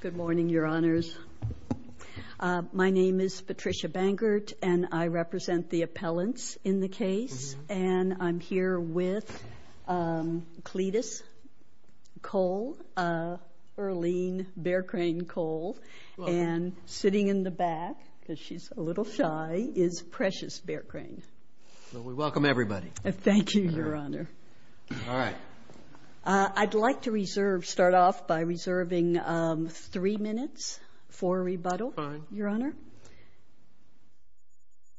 Good morning, Your Honors. My name is Patricia Bangert, and I represent the appellants in the case, and I'm here with Cletus Cole, Earline Bearcrain Cole, and sitting in the back, because she's a little shy, is Precious Bearcrain. Welcome everybody. Thank you, Your Honor. All right. I'd like to reserve, start off by reserving three minutes for rebuttal, Your Honor.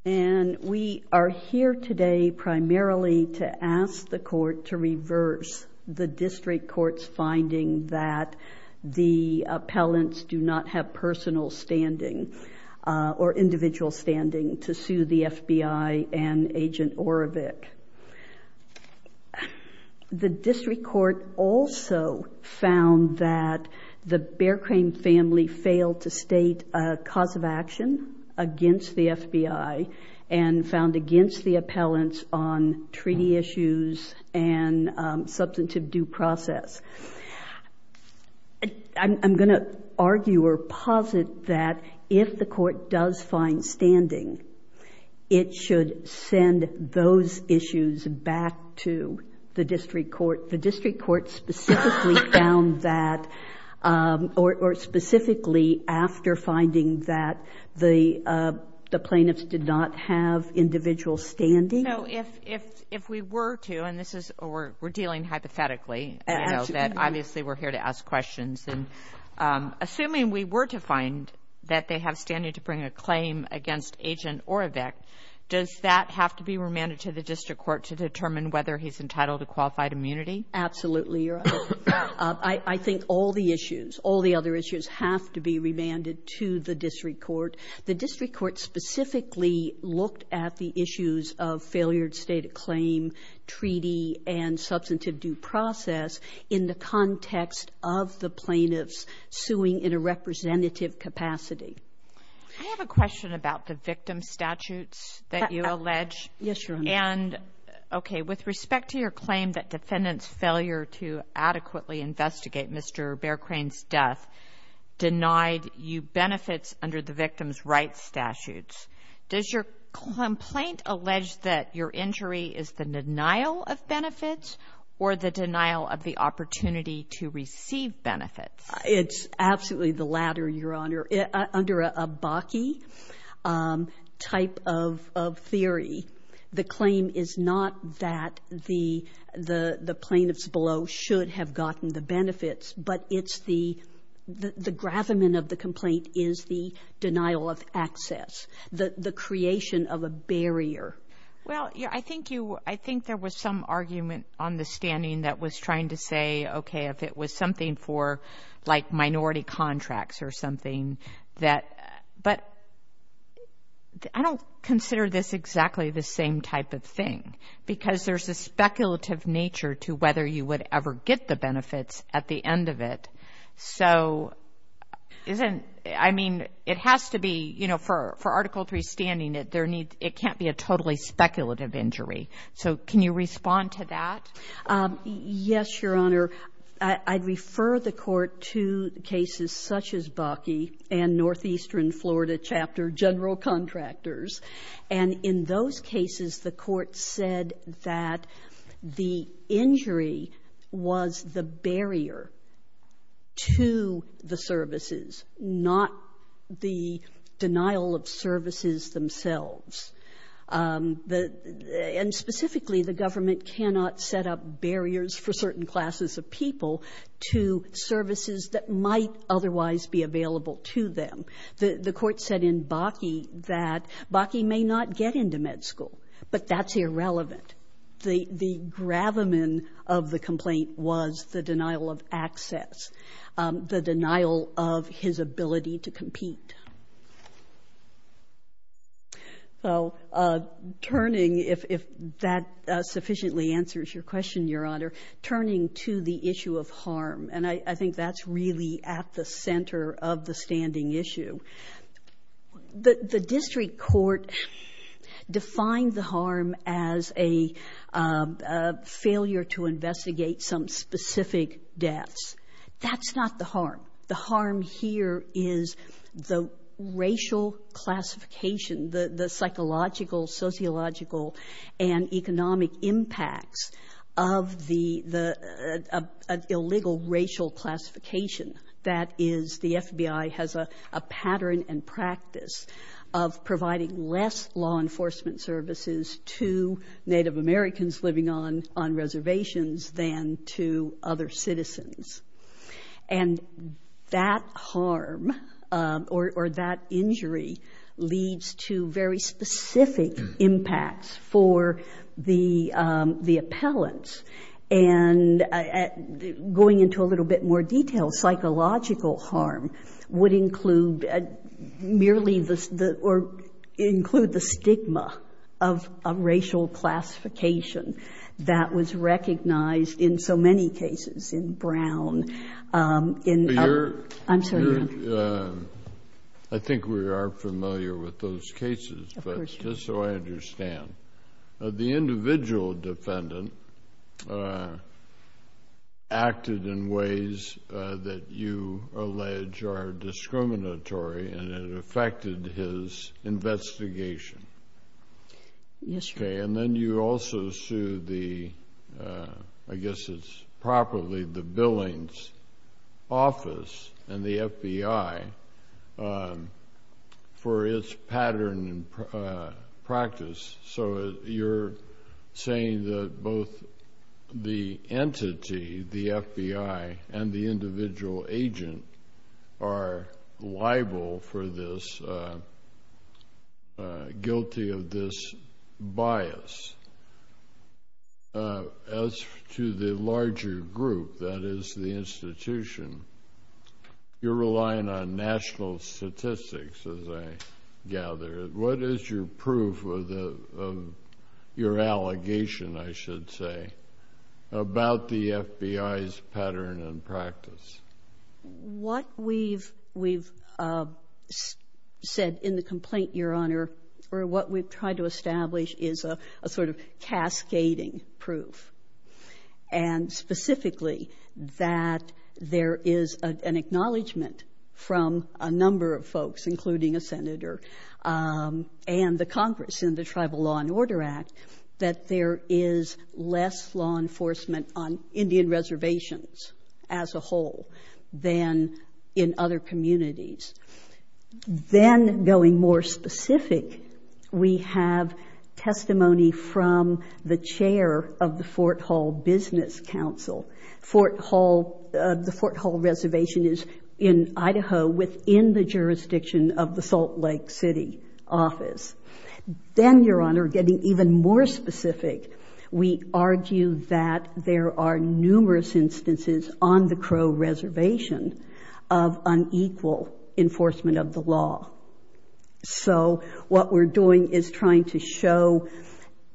And we are here today primarily to ask the court to reverse the district court's finding that the appellants do not have personal standing or individual standing to sue the FBI and Agent Oravec. The district court also found that the Bearcrain family failed to state a cause of action against the FBI and found against the appellants on treaty issues and substantive due process. I'm going to argue or posit that if the court does find standing, it should send those issues back to the district court. The district court specifically found that, or specifically after finding that, the plaintiffs did not have individual standing. So if we were to, and this is we're dealing hypothetically, that obviously we're here to ask questions, and assuming we were to find that they have standing to bring a claim against Agent Oravec, does that have to be remanded to the district court to determine whether he's entitled to qualified immunity? Absolutely, Your Honor. I think all the issues, all the other issues have to be remanded to the district court. The district court specifically looked at the issues of failure to state a claim, treaty, and substantive due process in the context of the plaintiffs suing in a representative capacity. I have a question about the victim statutes that you allege. Yes, Your Honor. And, okay, with respect to your claim that defendants' failure to adequately investigate Mr. Bearcrane's death denied you benefits under the victim's rights statutes, does your complaint allege that your injury is the denial of benefits or the denial of the opportunity to receive benefits? It's absolutely the latter, Your Honor. Under a Bakke type of theory, the claim is not that the plaintiffs below should have gotten the benefits, but it's the, the gravamen of the complaint is the denial of access, the creation of a barrier. Well, yeah, I think you, I think there was some argument on the standing that was trying to say, okay, if it was something for, like, minority contracts or something that, but I don't consider this exactly the same type of thing because there's a speculative nature to whether you would ever get the benefits at the end of it. So isn't, I mean, it has to be, you know, for, for Article III standing, there needs, it can't be a totally speculative injury. So can you respond to that? Yes, Your Honor. I'd refer the Court to cases such as Bakke and Northeastern Florida Chapter general contractors. And in those cases, the Court said that the injury was the barrier to the services, not the denial of services themselves. The, and specifically, the government cannot set up barriers for certain classes of people to services that might otherwise be available to them. The Court said in Bakke that Bakke may not get into med school, but that's irrelevant. The, the gravamen of the complaint was the denial of access, the denial of his ability to compete. So turning, if, if that sufficiently answers your question, Your Honor, turning to the issue of harm, and I, I think that's really at the center of the standing issue. The, the district court defined the harm as a failure to investigate some specific deaths. That's not the harm. The harm here is the racial classification, the, the psychological, sociological, and economic impacts of the, the illegal racial classification. That is, the FBI has a, a pattern and practice of providing less law enforcement services to Native Americans living on, on reservations than to other citizens. And that harm or, or that injury leads to very specific impacts for the, the appellants. And going into a little bit more detail, psychological harm would include merely the, the, or include the stigma of a racial classification that was recognized in so many cases. In Brown, in, I'm sorry. But you're, you're, I think we are familiar with those cases, but just so I understand, the individual defendant acted in ways that you allege are discriminatory and it affected his investigation. Yes, Your Honor. And then you also sued the, I guess it's properly the Billings Office and the FBI for its pattern and practice. So you're saying that both the entity, the FBI, and the individual agent are liable for this, guilty of this bias. As to the larger group, that is the institution, you're relying on national statistics, as I gather. What is your proof of the, of your allegation, I should say, about the FBI's pattern and practice? What we've, we've said in the complaint, Your Honor, or what we've tried to establish is a sort of cascading proof. And specifically, that there is an acknowledgement from a number of folks, including a senator and the Congress in the Tribal Law and Order Act, that there is less law enforcement on than in other communities. Then, going more specific, we have testimony from the chair of the Fort Hall Business Council. Fort Hall, the Fort Hall reservation is in Idaho within the jurisdiction of the Salt Lake City office. Then, Your Honor, getting even more specific, we argue that there are numerous instances on the Crow Reservation of unequal enforcement of the law. So, what we're doing is trying to show,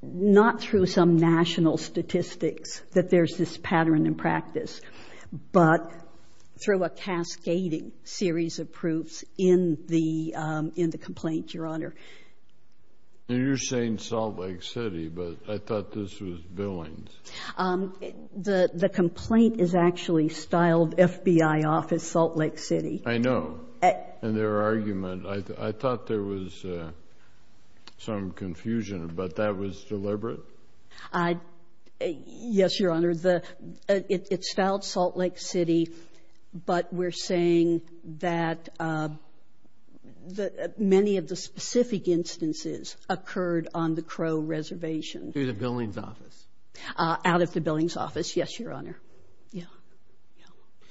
not through some national statistics that there's this pattern and practice, but through a cascading series of proofs in the, in the complaint, Your Honor. And you're saying Salt Lake City, but I thought this was Billings. Um, the, the complaint is actually styled FBI office, Salt Lake City. I know. And their argument, I thought there was some confusion, but that was deliberate? I, yes, Your Honor. The, it's styled Salt Lake City, but we're saying that many of the specific instances occurred on the Crow Reservation. Through the Billings office? Out of the Billings office, yes, Your Honor. Yeah, yeah.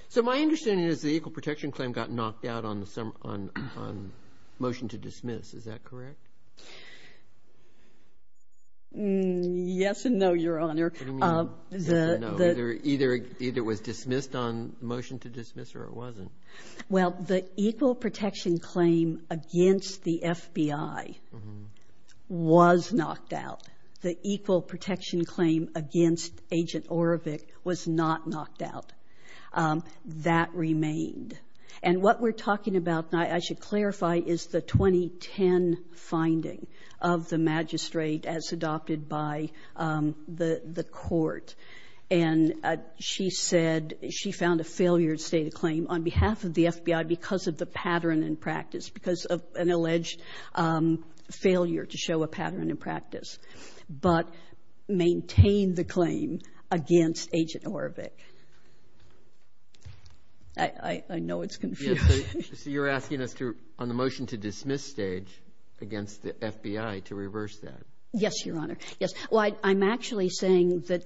So, my understanding is the equal protection claim got knocked out on the, on, on motion to dismiss. Is that correct? Yes and no, Your Honor. What do you mean yes and no? Either, either it was dismissed on motion to dismiss or it wasn't. Well, the equal protection claim against the FBI was knocked out. The equal protection claim against Agent Orovick was not knocked out. That remained. And what we're talking about now, I should clarify, is the 2010 finding of the magistrate as adopted by the, the court. And she said, she found a failure to state a claim on behalf of the FBI because of the pattern in practice, because of an alleged failure to show a pattern in practice. But maintain the claim against Agent Orovick. I, I know it's confusing. So you're asking us to, on the motion to dismiss stage against the FBI to reverse that? Yes, Your Honor. Yes. Well, I'm actually saying that,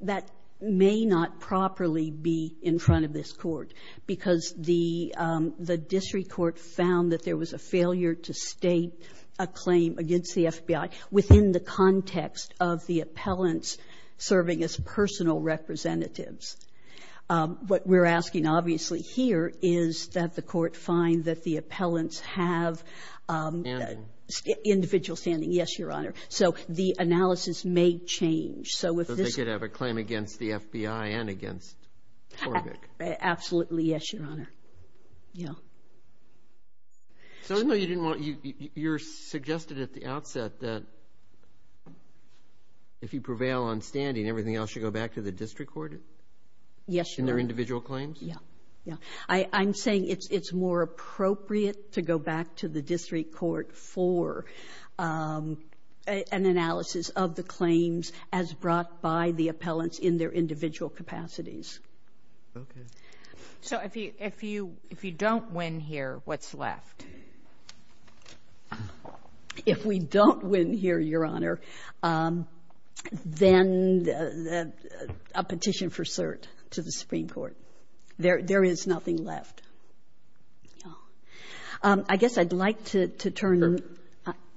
that may not properly be in front of this court because the, the district court found that there was a failure to state a claim against the FBI within the context of the appellants serving as personal representatives. What we're asking, obviously, here is that the court find that the appellants have individual standing. Yes, Your Honor. So the analysis may change. So if this was a claim against the FBI and against Orovick. Absolutely. Yes, Your Honor. Yeah. So I know you didn't want, you, you, you're suggested at the outset that if you prevail on standing, everything else should go back to the district court? Yes, Your Honor. In their individual claims? Yeah. Yeah. I, I'm saying it's, it's more appropriate to go back to the district court for an analysis of the claims as brought by the appellants in their individual capacities. Okay. So if you, if you, if you don't win here, what's left? If we don't win here, Your Honor, then a petition for cert to the Supreme Court. There, there is nothing left. Yeah. I guess I'd like to, to turn. Sure.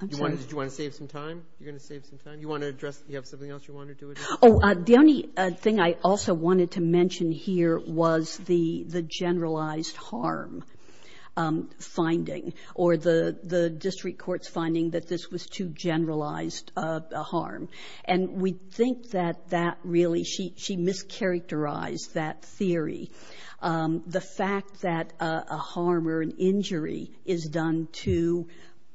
I'm sorry. Do you want to save some time? You're going to save some time? You want to address, you have something else you want to do? Oh, the only thing I also wanted to mention here was the, the generalized harm finding or the, the district court's finding that this was too generalized harm. And we think that that really, she, she mischaracterized that theory. The fact that a harm or an injury is done to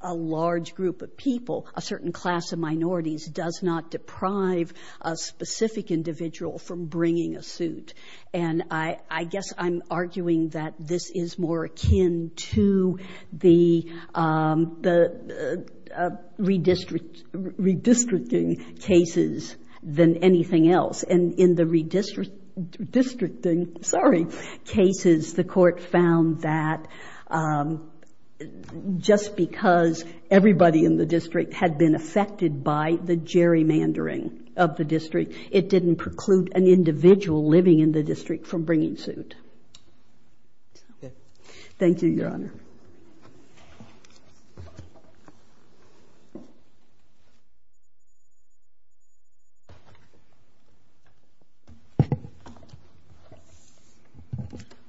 a large group of people, a certain class of minorities, does not deprive a specific individual from bringing a suit. And I, I guess I'm arguing that this is more akin to the, the redistricting cases than anything else. And in the redistricting, sorry, cases, the court found that just because everybody in the district had been affected by the gerrymandering of the district, it didn't preclude an individual living in the district from bringing suit. Thank you, Your Honor.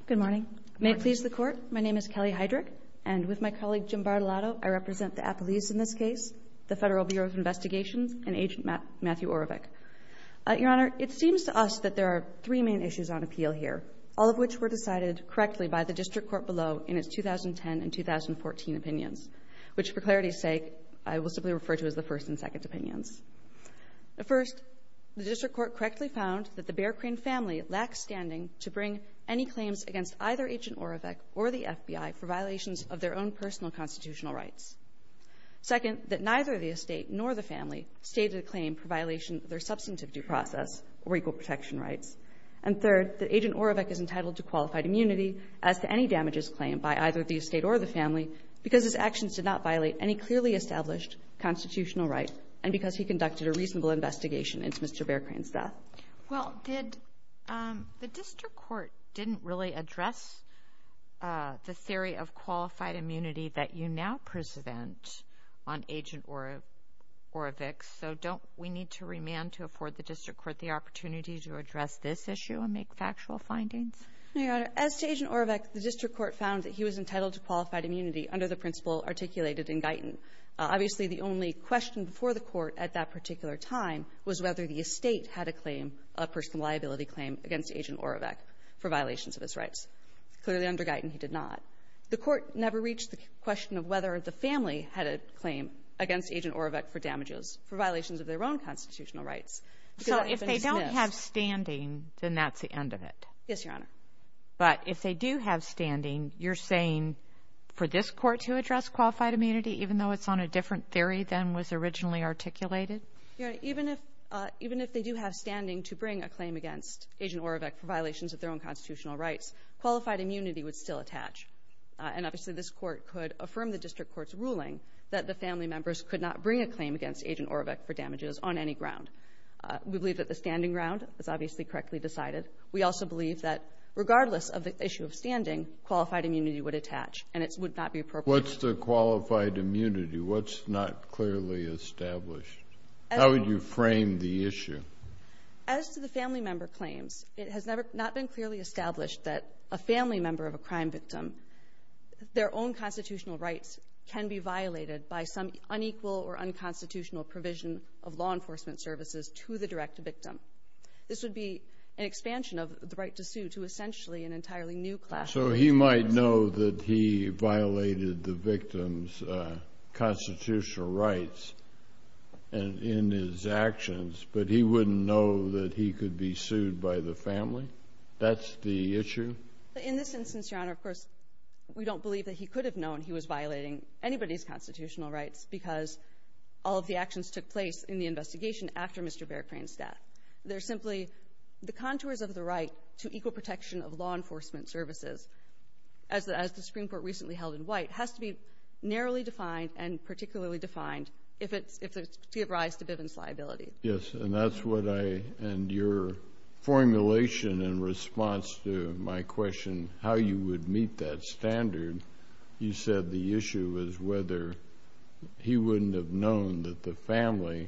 Good morning. May it please the Court. My name is Kelly Heydrich. And with my colleague, Jim Bartolatto, I represent the Appellees in this case, the Federal Bureau of Investigation, and Agent Matthew Orovec. Your Honor, it seems to us that there are three main issues on appeal here, all of which were decided correctly by the district court below in its 2010 and 2014 opinions, which for clarity's sake, I will simply refer to as the first and second opinions. The first, the district court correctly found that the Bear Crane family lacks standing to of their own personal constitutional rights. Second, that neither the estate nor the family stated a claim for violation of their substantive due process or equal protection rights. And third, that Agent Orovec is entitled to qualified immunity as to any damages claimed by either the estate or the family because his actions did not violate any clearly established constitutional right and because he conducted a reasonable investigation into Mr. Bear Crane's death. Well, did the district court didn't really address the theory of qualified immunity that you now present on Agent Orovec? So don't we need to remand to afford the district court the opportunity to address this issue and make factual findings? Your Honor, as to Agent Orovec, the district court found that he was entitled to qualified immunity under the principle articulated in Guyton. Obviously, the only question before the court at that particular time was whether the estate had a claim, a personal liability claim against Agent Orovec for violations of his rights. Clearly under Guyton, he did not. The court never reached the question of whether the family had a claim against Agent Orovec for damages for violations of their own constitutional rights. So if they don't have standing, then that's the end of it? Yes, Your Honor. But if they do have standing, you're saying for this court to address qualified immunity, even though it's on a different theory than was originally articulated? Your Honor, even if they do have standing to bring a claim against Agent Orovec for violations of their own constitutional rights, qualified immunity would still attach. And obviously, this court could affirm the district court's ruling that the family members could not bring a claim against Agent Orovec for damages on any ground. We believe that the standing ground is obviously correctly decided. We also believe that regardless of the issue of standing, qualified immunity would attach, and it would not be appropriate. What's the qualified immunity? What's not clearly established? How would you frame the issue? As to the family member claims, it has not been clearly established that a family member of a crime victim, their own constitutional rights can be violated by some unequal or unconstitutional provision of law enforcement services to the direct victim. This would be an expansion of the right to sue to essentially an entirely new class. So he might know that he violated the victim's constitutional rights in his actions, but he wouldn't know that he could be sued by the family? That's the issue? In this instance, Your Honor, of course, we don't believe that he could have known he was violating anybody's constitutional rights because all of the actions took place in the investigation after Mr. Bear Crane's death. They're simply the contours of the right to equal protection of law enforcement services, as the Supreme Court recently held in White, has to be narrowly defined and particularly defined if it's to give rise to Bivens liability. Yes, and that's what I and your formulation in response to my question, how you would meet that standard, you said the issue was whether he wouldn't have known that the family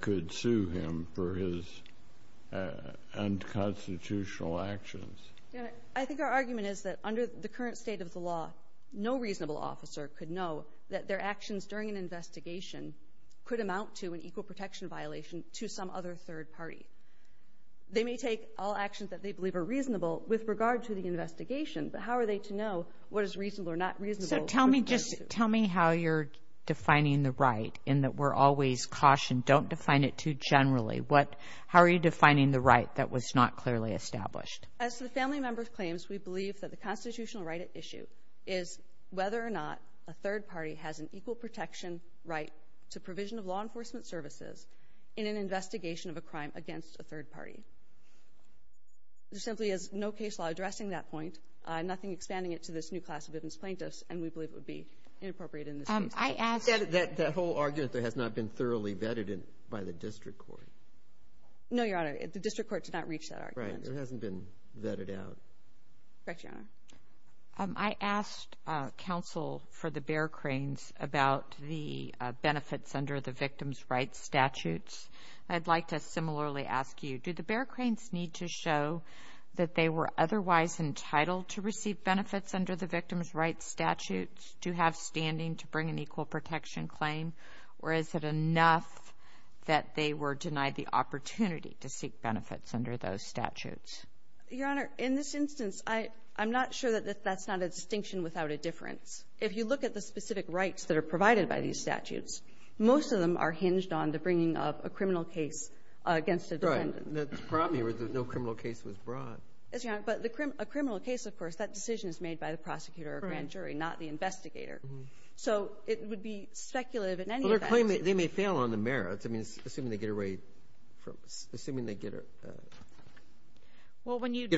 could sue him for his unconstitutional actions. I think our argument is that under the current state of the law, no reasonable officer could know that their actions during an investigation could amount to an equal protection violation to some other third party. They may take all actions that they believe are reasonable with regard to the investigation, but how are they to know what is reasonable or not reasonable? Tell me how you're defining the right, in that we're always cautioned, don't define it too generally. How are you defining the right that was not clearly established? As the family member claims, we believe that the constitutional right at issue is whether or not a third party has an equal protection right to provision of law enforcement services in an investigation of a crime against a third party. There simply is no case law addressing that point, nothing expanding it to this new class of victim's plaintiffs, and we believe it would be inappropriate in this case. I asked... That whole argument that has not been thoroughly vetted by the district court. No, Your Honor, the district court did not reach that argument. Right, it hasn't been vetted out. Correct, Your Honor. I asked counsel for the bear cranes about the benefits under the victim's rights statutes. I'd like to similarly ask you, do the bear cranes need to show that they were otherwise entitled to receive benefits under the victim's rights statutes to have standing to bring an equal protection claim, or is it enough that they were denied the opportunity to seek benefits under those statutes? Your Honor, in this instance, I'm not sure that that's not a distinction without a difference. If you look at the specific rights that are provided by these statutes, most of them are hinged on the bringing of a criminal case against a defendant. Right, the problem here is that no criminal case was brought. Yes, Your Honor. But a criminal case, of course, that decision is made by the prosecutor or grand jury, not the investigator. So it would be speculative in any event. Well, they're claiming they may fail on the merits. I mean, assuming they get away from... Assuming they get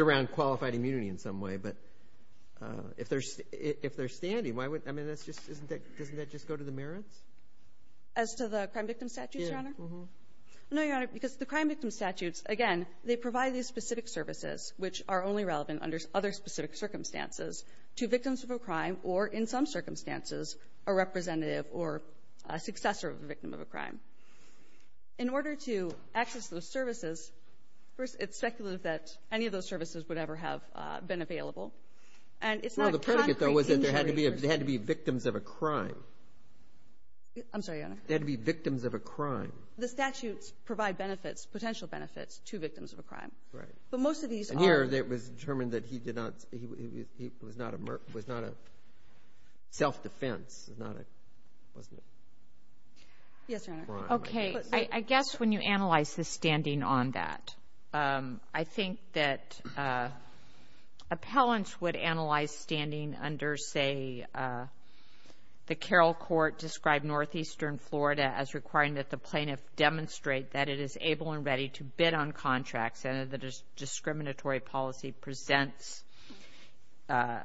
around qualified immunity in some way. But if they're standing, why would... I mean, doesn't that just go to the merits? As to the crime victim statutes, Your Honor? Yeah. No, Your Honor, because the crime victim statutes, again, they provide these specific services which are only relevant under other specific circumstances to victims of a crime or, in some circumstances, a representative or a successor of a victim of a crime. In order to access those services, first, it's speculative that any of those services would ever have been available. And it's not a concrete injury... Well, the predicate, though, was that there had to be victims of a crime. I'm sorry, Your Honor. There had to be victims of a crime. The statutes provide benefits, potential benefits, to victims of a crime. Right. But most of these are... Here, it was determined that he was not a self-defense. It was not a... Wasn't it? Yes, Your Honor. Okay. I guess when you analyze the standing on that, I think that appellants would analyze standing under, say, the Carroll Court described Northeastern Florida as requiring that the plaintiff demonstrate that it is able and ready to bid on contracts and that discriminatory policy presents that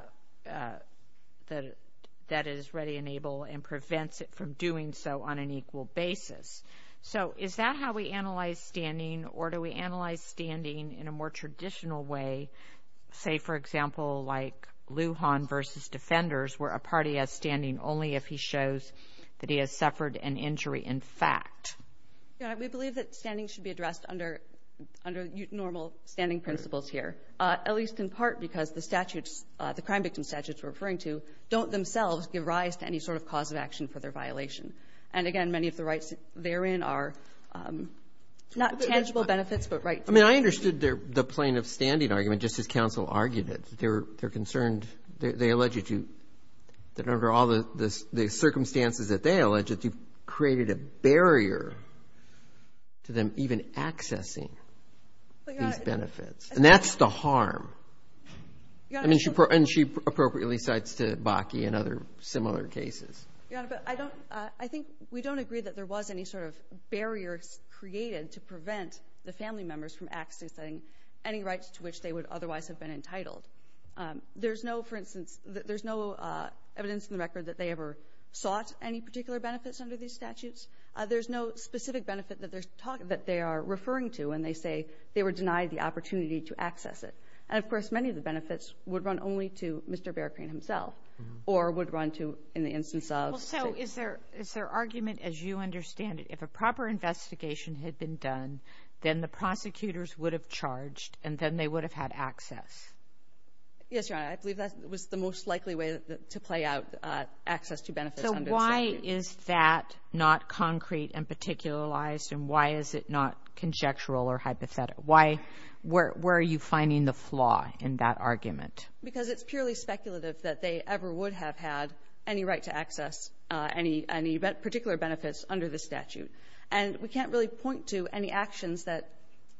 it is ready and able and prevents it from doing so on an equal basis. So is that how we analyze standing? Or do we analyze standing in a more traditional way, say, for example, like Lujan versus Defenders, where a party has standing only if he shows that he has suffered an injury in fact? Your Honor, we believe that standing should be addressed under normal standing principles here, at least in part because the statutes, the crime victim statutes we're referring to, don't themselves give rise to any sort of cause of action for their violation. And again, many of the rights therein are not tangible benefits, but rights... I mean, I understood the plaintiff's standing argument just as counsel argued it. They're concerned, they allege that you, that under all the circumstances that they allege it, you've created a barrier to them even accessing these benefits. And that's the harm. I mean, she appropriately cites to Bakke and other similar cases. Your Honor, but I think we don't agree that there was any sort of barrier created to prevent the family members from accessing any rights to which they would otherwise have been entitled. There's no, for instance, there's no evidence in the record that they ever sought any particular benefits under these statutes. There's no specific benefit that they're talking, that they are referring to when they say they were denied the opportunity to access it. And of course, many of the benefits would run only to Mr. Bearcrane himself or would run to, in the instance of... Well, so is there, is there argument, as you understand it, if a proper investigation had been done, then the prosecutors would have charged and then they would have had access? Yes, Your Honor, I believe that was the most likely way to play out access to benefits under the statute. So why is that not concrete and particularized and why is it not conjectural or hypothetical? Why, where, where are you finding the flaw in that argument? Because it's purely speculative that they ever would have had any right to access any, any particular benefits under the statute. And we can't really point to any actions that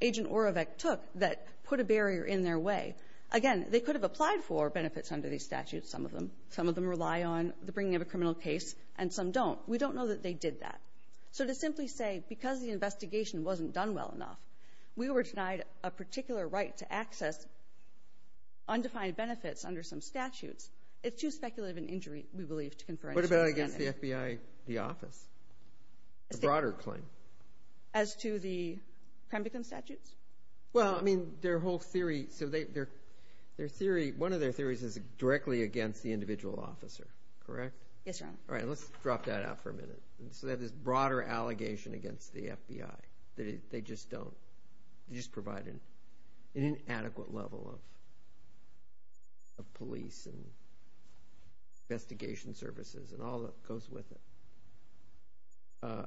Agent Orovec took that put a barrier in their way. Again, they could have applied for benefits under these statutes, some of them. Some of them rely on the bringing of a criminal case and some don't. We don't know that they did that. So to simply say, because the investigation wasn't done well enough, we were denied a particular right to access undefined benefits under some statutes, it's too speculative an injury, we believe, to confidential identity. What about against the FBI, the office, a broader claim? As to the Prembecum statutes? Well, I mean, their whole theory, so they, their, their theory, one of their theories is directly against the individual officer, correct? Yes, Your Honor. All right, let's drop that out for a minute. So they have this broader allegation against the FBI that they just don't, they just provide an, an inadequate level of, of police and investigation services and all that goes with it.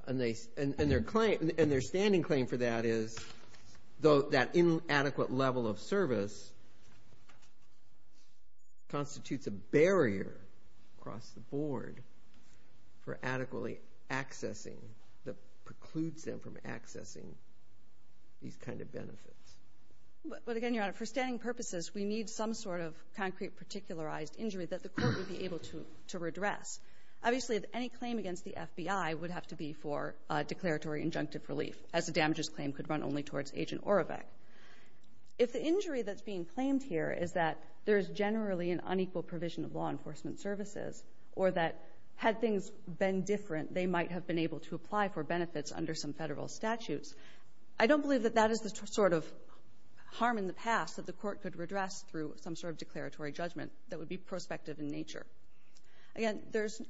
And they, and their claim, and their standing claim for that is though that inadequate level of service constitutes a barrier across the board for adequately accessing, that precludes them from accessing these kind of benefits. But again, Your Honor, for standing purposes, we need some sort of concrete particularized injury that the court would be able to, to redress. Obviously, any claim against the FBI would have to be for a declaratory injunctive relief, as the damages claim could run only towards Agent Orovec. If the injury that's being claimed here is that there's generally an unequal provision of law enforcement services, or that had things been different, they might have been able to apply for benefits under some federal statutes, I don't believe that that is the sort of harm in the past that the court could redress through some sort of declaratory judgment that would be prospective in nature. Again, there's,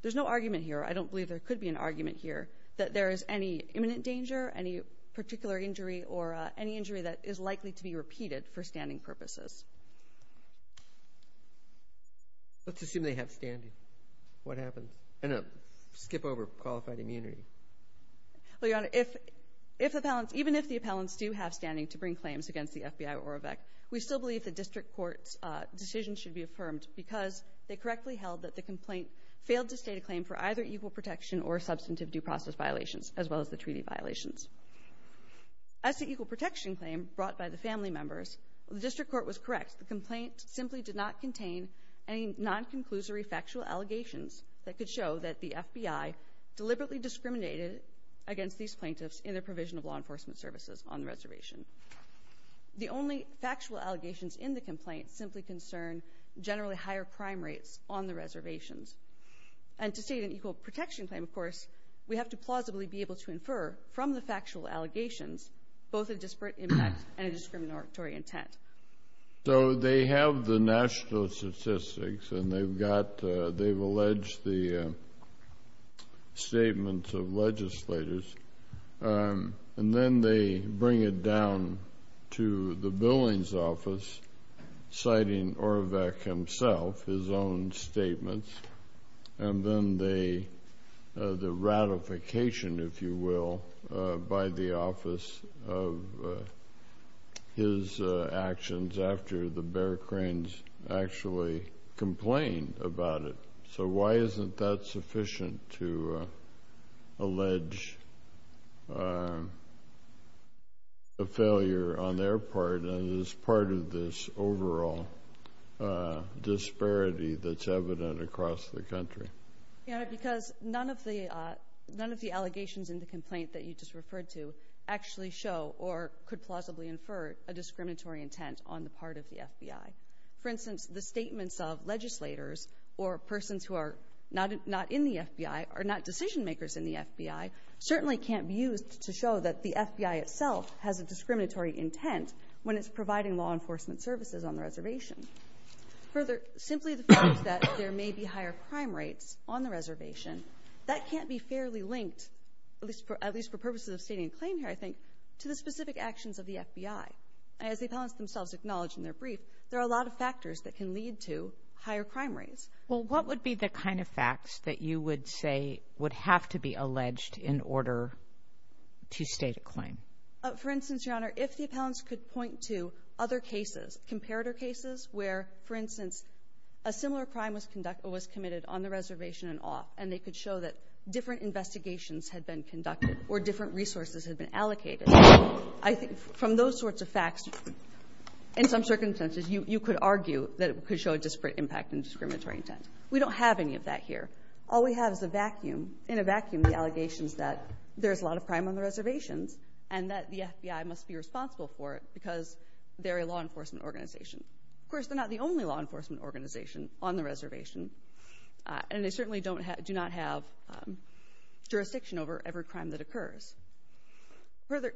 there's no argument here. I don't believe there could be an argument here that there is any imminent danger, any particular injury, or any injury that is likely to be repeated for standing purposes. Let's assume they have standing. What happens in a skip over qualified immunity? Well, Your Honor, if, if appellants, even if the appellants do have standing to bring claims against the FBI Orovec, we still believe the district court's decision should be affirmed because they correctly held that the complaint failed to state a claim for either equal protection or substantive due process violations, as well as the treaty violations. As to equal protection claim brought by the family members, the district court was correct. The complaint simply did not contain any non-conclusory factual allegations that could show that the FBI deliberately discriminated against these plaintiffs in their provision of law enforcement services on the reservation. The only factual allegations in the complaint simply concern generally higher crime rates on the reservations. And to state an equal protection claim, of course, we have to plausibly be able to infer from the factual allegations both a disparate impact and a discriminatory intent. So they have the national statistics and they've got, they've alleged the statements of legislators. And then they bring it down to the billing's office, citing Orovec himself, his own statements. And then they, the ratification, if you will, by the office of his actions after the Bear Cranes actually complained about it. So why isn't that sufficient to allege a failure on their part as part of this overall disparity that's evident across the country? Because none of the, none of the allegations in the complaint that you just referred to actually show or could plausibly infer a discriminatory intent on the part of the FBI. For instance, the statements of legislators or persons who are not in the FBI or not decision makers in the FBI certainly can't be used to show that the FBI itself has a discriminatory intent when it's providing law enforcement services on the reservation. Further, simply the fact that there may be higher crime rates on the reservation, that can't be fairly linked, at least for purposes of stating a claim here, I think, to the specific actions of the FBI. As the appellants themselves acknowledge in their brief, there are a lot of factors that can lead to higher crime rates. Well, what would be the kind of facts that you would say would have to be alleged in order to state a claim? For instance, Your Honor, if the appellants could point to other cases, comparator cases, where, for instance, a similar crime was committed on the reservation in off and they could show that different investigations had been conducted or different resources had been allocated, I think from those sorts of facts, in some circumstances, you could argue that it could show a disparate impact in discriminatory intent. We don't have any of that here. All we have is a vacuum. In a vacuum, the allegations that there's a lot of crime on the reservations and that the FBI must be responsible for it because they're a law enforcement organization. Of course, they're not the only law enforcement organization on the reservation, and they certainly do not have jurisdiction over every crime that occurs. Further,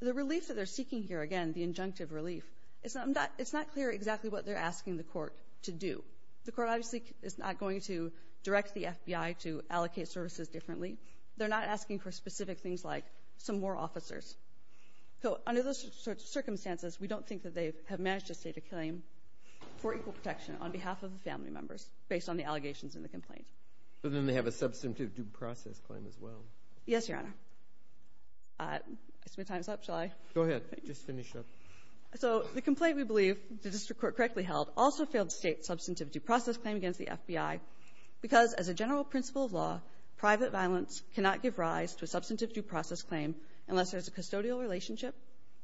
the relief that they're seeking here, again, the injunctive relief, it's not clear exactly what they're asking the court to do. The court obviously is not going to direct the FBI to allocate services differently. They're not asking for specific things like some more officers. So under those circumstances, we don't think that they have managed to state a claim for equal protection on behalf of the family members based on the allegations in the complaint. But then they have a substantive due process claim as well. Yes, Your Honor. I see my time's up. Shall I? Go ahead. Just finish up. So the complaint we believe the district court correctly held also failed to state substantive due process claim against the FBI because as a general principle of law, private violence cannot give rise to a substantive due process claim unless there's a custodial relationship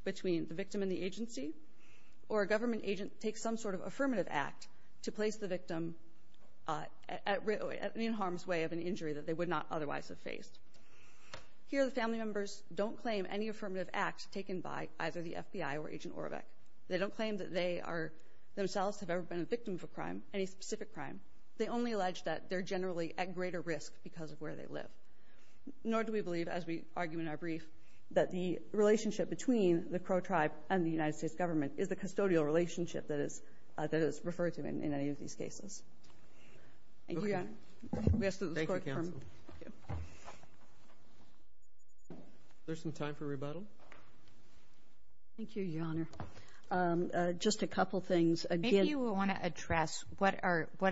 between the victim and the agency or a government agent takes some sort of affirmative act to place the victim in harm's way of an injury that they would not otherwise have faced. Here, the family members don't claim any affirmative act taken by either the FBI or Agent Orovec. They don't claim that they themselves have ever been a victim of a crime, any specific crime. They only allege that they're generally at greater risk because of where they live. Nor do we believe, as we argue in our brief, that the relationship between the Crow tribe and the United States government is the custodial relationship that is referred to in any of these cases. Thank you, Your Honor. Okay. Thank you, counsel. Is there some time for rebuttal? Thank you, Your Honor. Just a couple things. Maybe you want to address what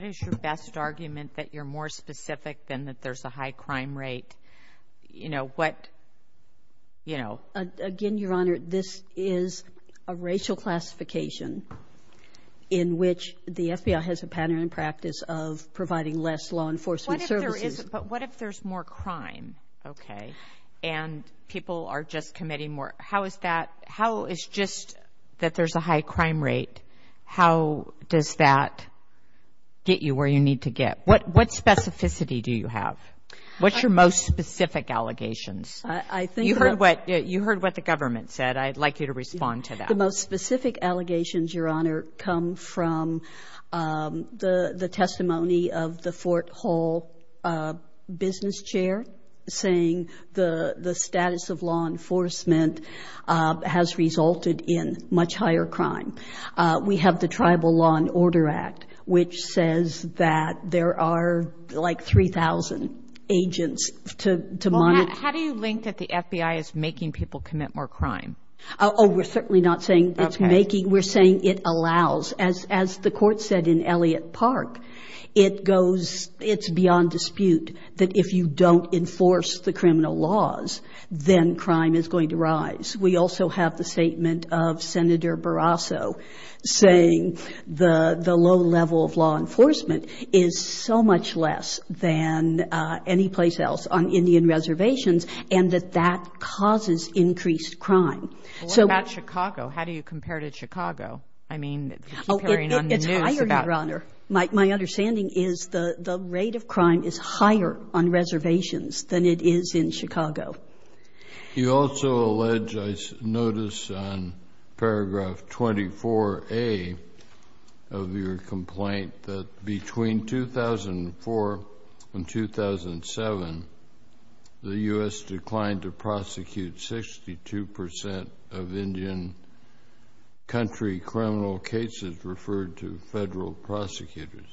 is your best argument that you're more specific than that there's a high crime rate? You know, what, you know? Again, Your Honor, this is a racial classification in which the FBI has a pattern in practice of providing less law enforcement services. But what if there's more crime? Okay. And people are just committing more. How is that? How is just that there's a high crime rate, how does that get you where you need to get? What specificity do you have? What's your most specific allegations? You heard what the government said. I'd like you to respond to that. The most specific allegations, Your Honor, come from the testimony of the Fort Hall business chair saying the status of law enforcement has resulted in much higher crime. We have the Tribal Law and Order Act, which says that there are like 3,000 agents to monitor. How do you link that the FBI is making people commit more crime? Oh, we're certainly not saying it's making. We're saying it allows. As the court said in Elliott Park, it goes, it's beyond dispute that if you don't enforce the criminal laws, then crime is going to rise. We also have the statement of Senator Barrasso saying the low level of law enforcement is so much less than any place else on Indian reservations and that that causes increased crime. So what about Chicago? How do you compare to Chicago? I mean, comparing on the news about- Oh, it's higher, Your Honor. My understanding is the rate of crime is higher on reservations than it is in Chicago. You also allege, I notice on paragraph 24A of your complaint, that between 2004 and 2007, the U.S. declined to prosecute 62% of Indian country criminal cases referred to federal prosecutors.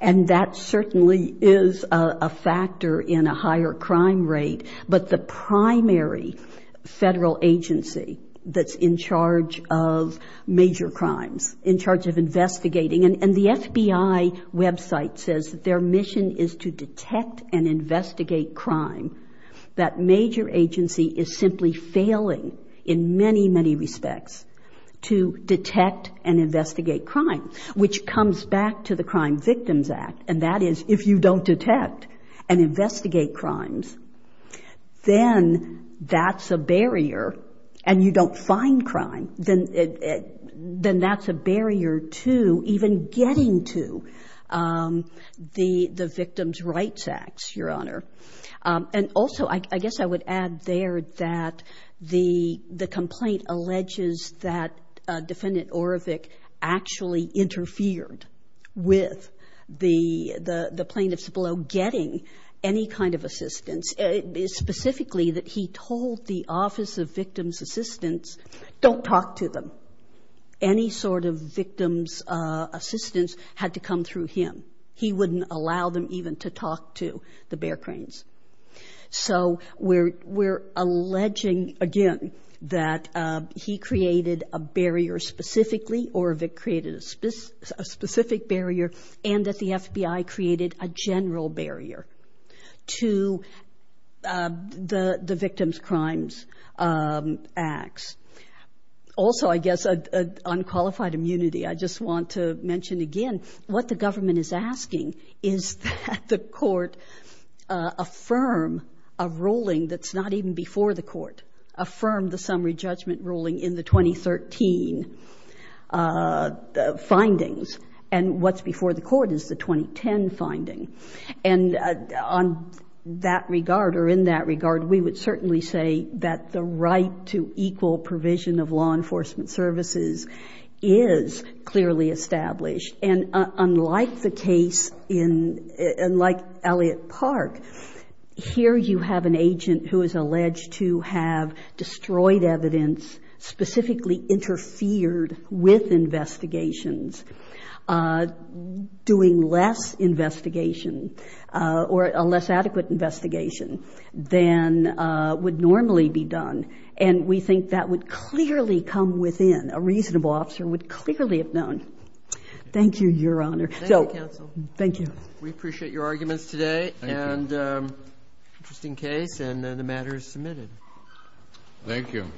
And that certainly is a factor in a higher crime rate. But the primary federal agency that's in charge of major crimes, in charge of investigating, and the FBI website says that their mission is to detect and investigate crime. That major agency is simply failing in many, many respects to detect and investigate crime, which comes back to the Crime Victims Act. And that is, if you don't detect and investigate crimes, then that's a barrier. And you don't find crime, then that's a barrier to even getting to the Victims Rights Acts, Your Honor. And also, I guess I would add there that the complaint alleges that Defendant Orevic actually interfered with the plaintiffs below getting any kind of assistance, specifically that he told the Office of Victims Assistance, don't talk to them. Any sort of victims assistance had to come through him. He wouldn't allow them even to talk to the bear cranes. So we're alleging, again, that he created a barrier specifically, Orevic created a specific barrier, and that the FBI created a general barrier to the Victims Crimes Acts. Also, I guess, on qualified immunity, I just want to mention again, what the government is asking is that the Court affirm a ruling that's not even before the Court, affirm the summary judgment ruling in the 2013 findings. And what's before the Court is the 2010 finding. And on that regard, or in that regard, we would certainly say that the right to equal provision of law enforcement services is clearly established. And unlike the case in — unlike Elliott Park, here you have an agent who is alleged to have destroyed evidence, specifically interfered with investigations, doing less investigation or a less adequate investigation than would normally be done. And we think that would clearly come within. A reasonable officer would clearly have known. Thank you, Your Honor. Thank you, Counsel. Thank you. We appreciate your arguments today. Thank you. And just in case, and the matter is submitted. Thank you.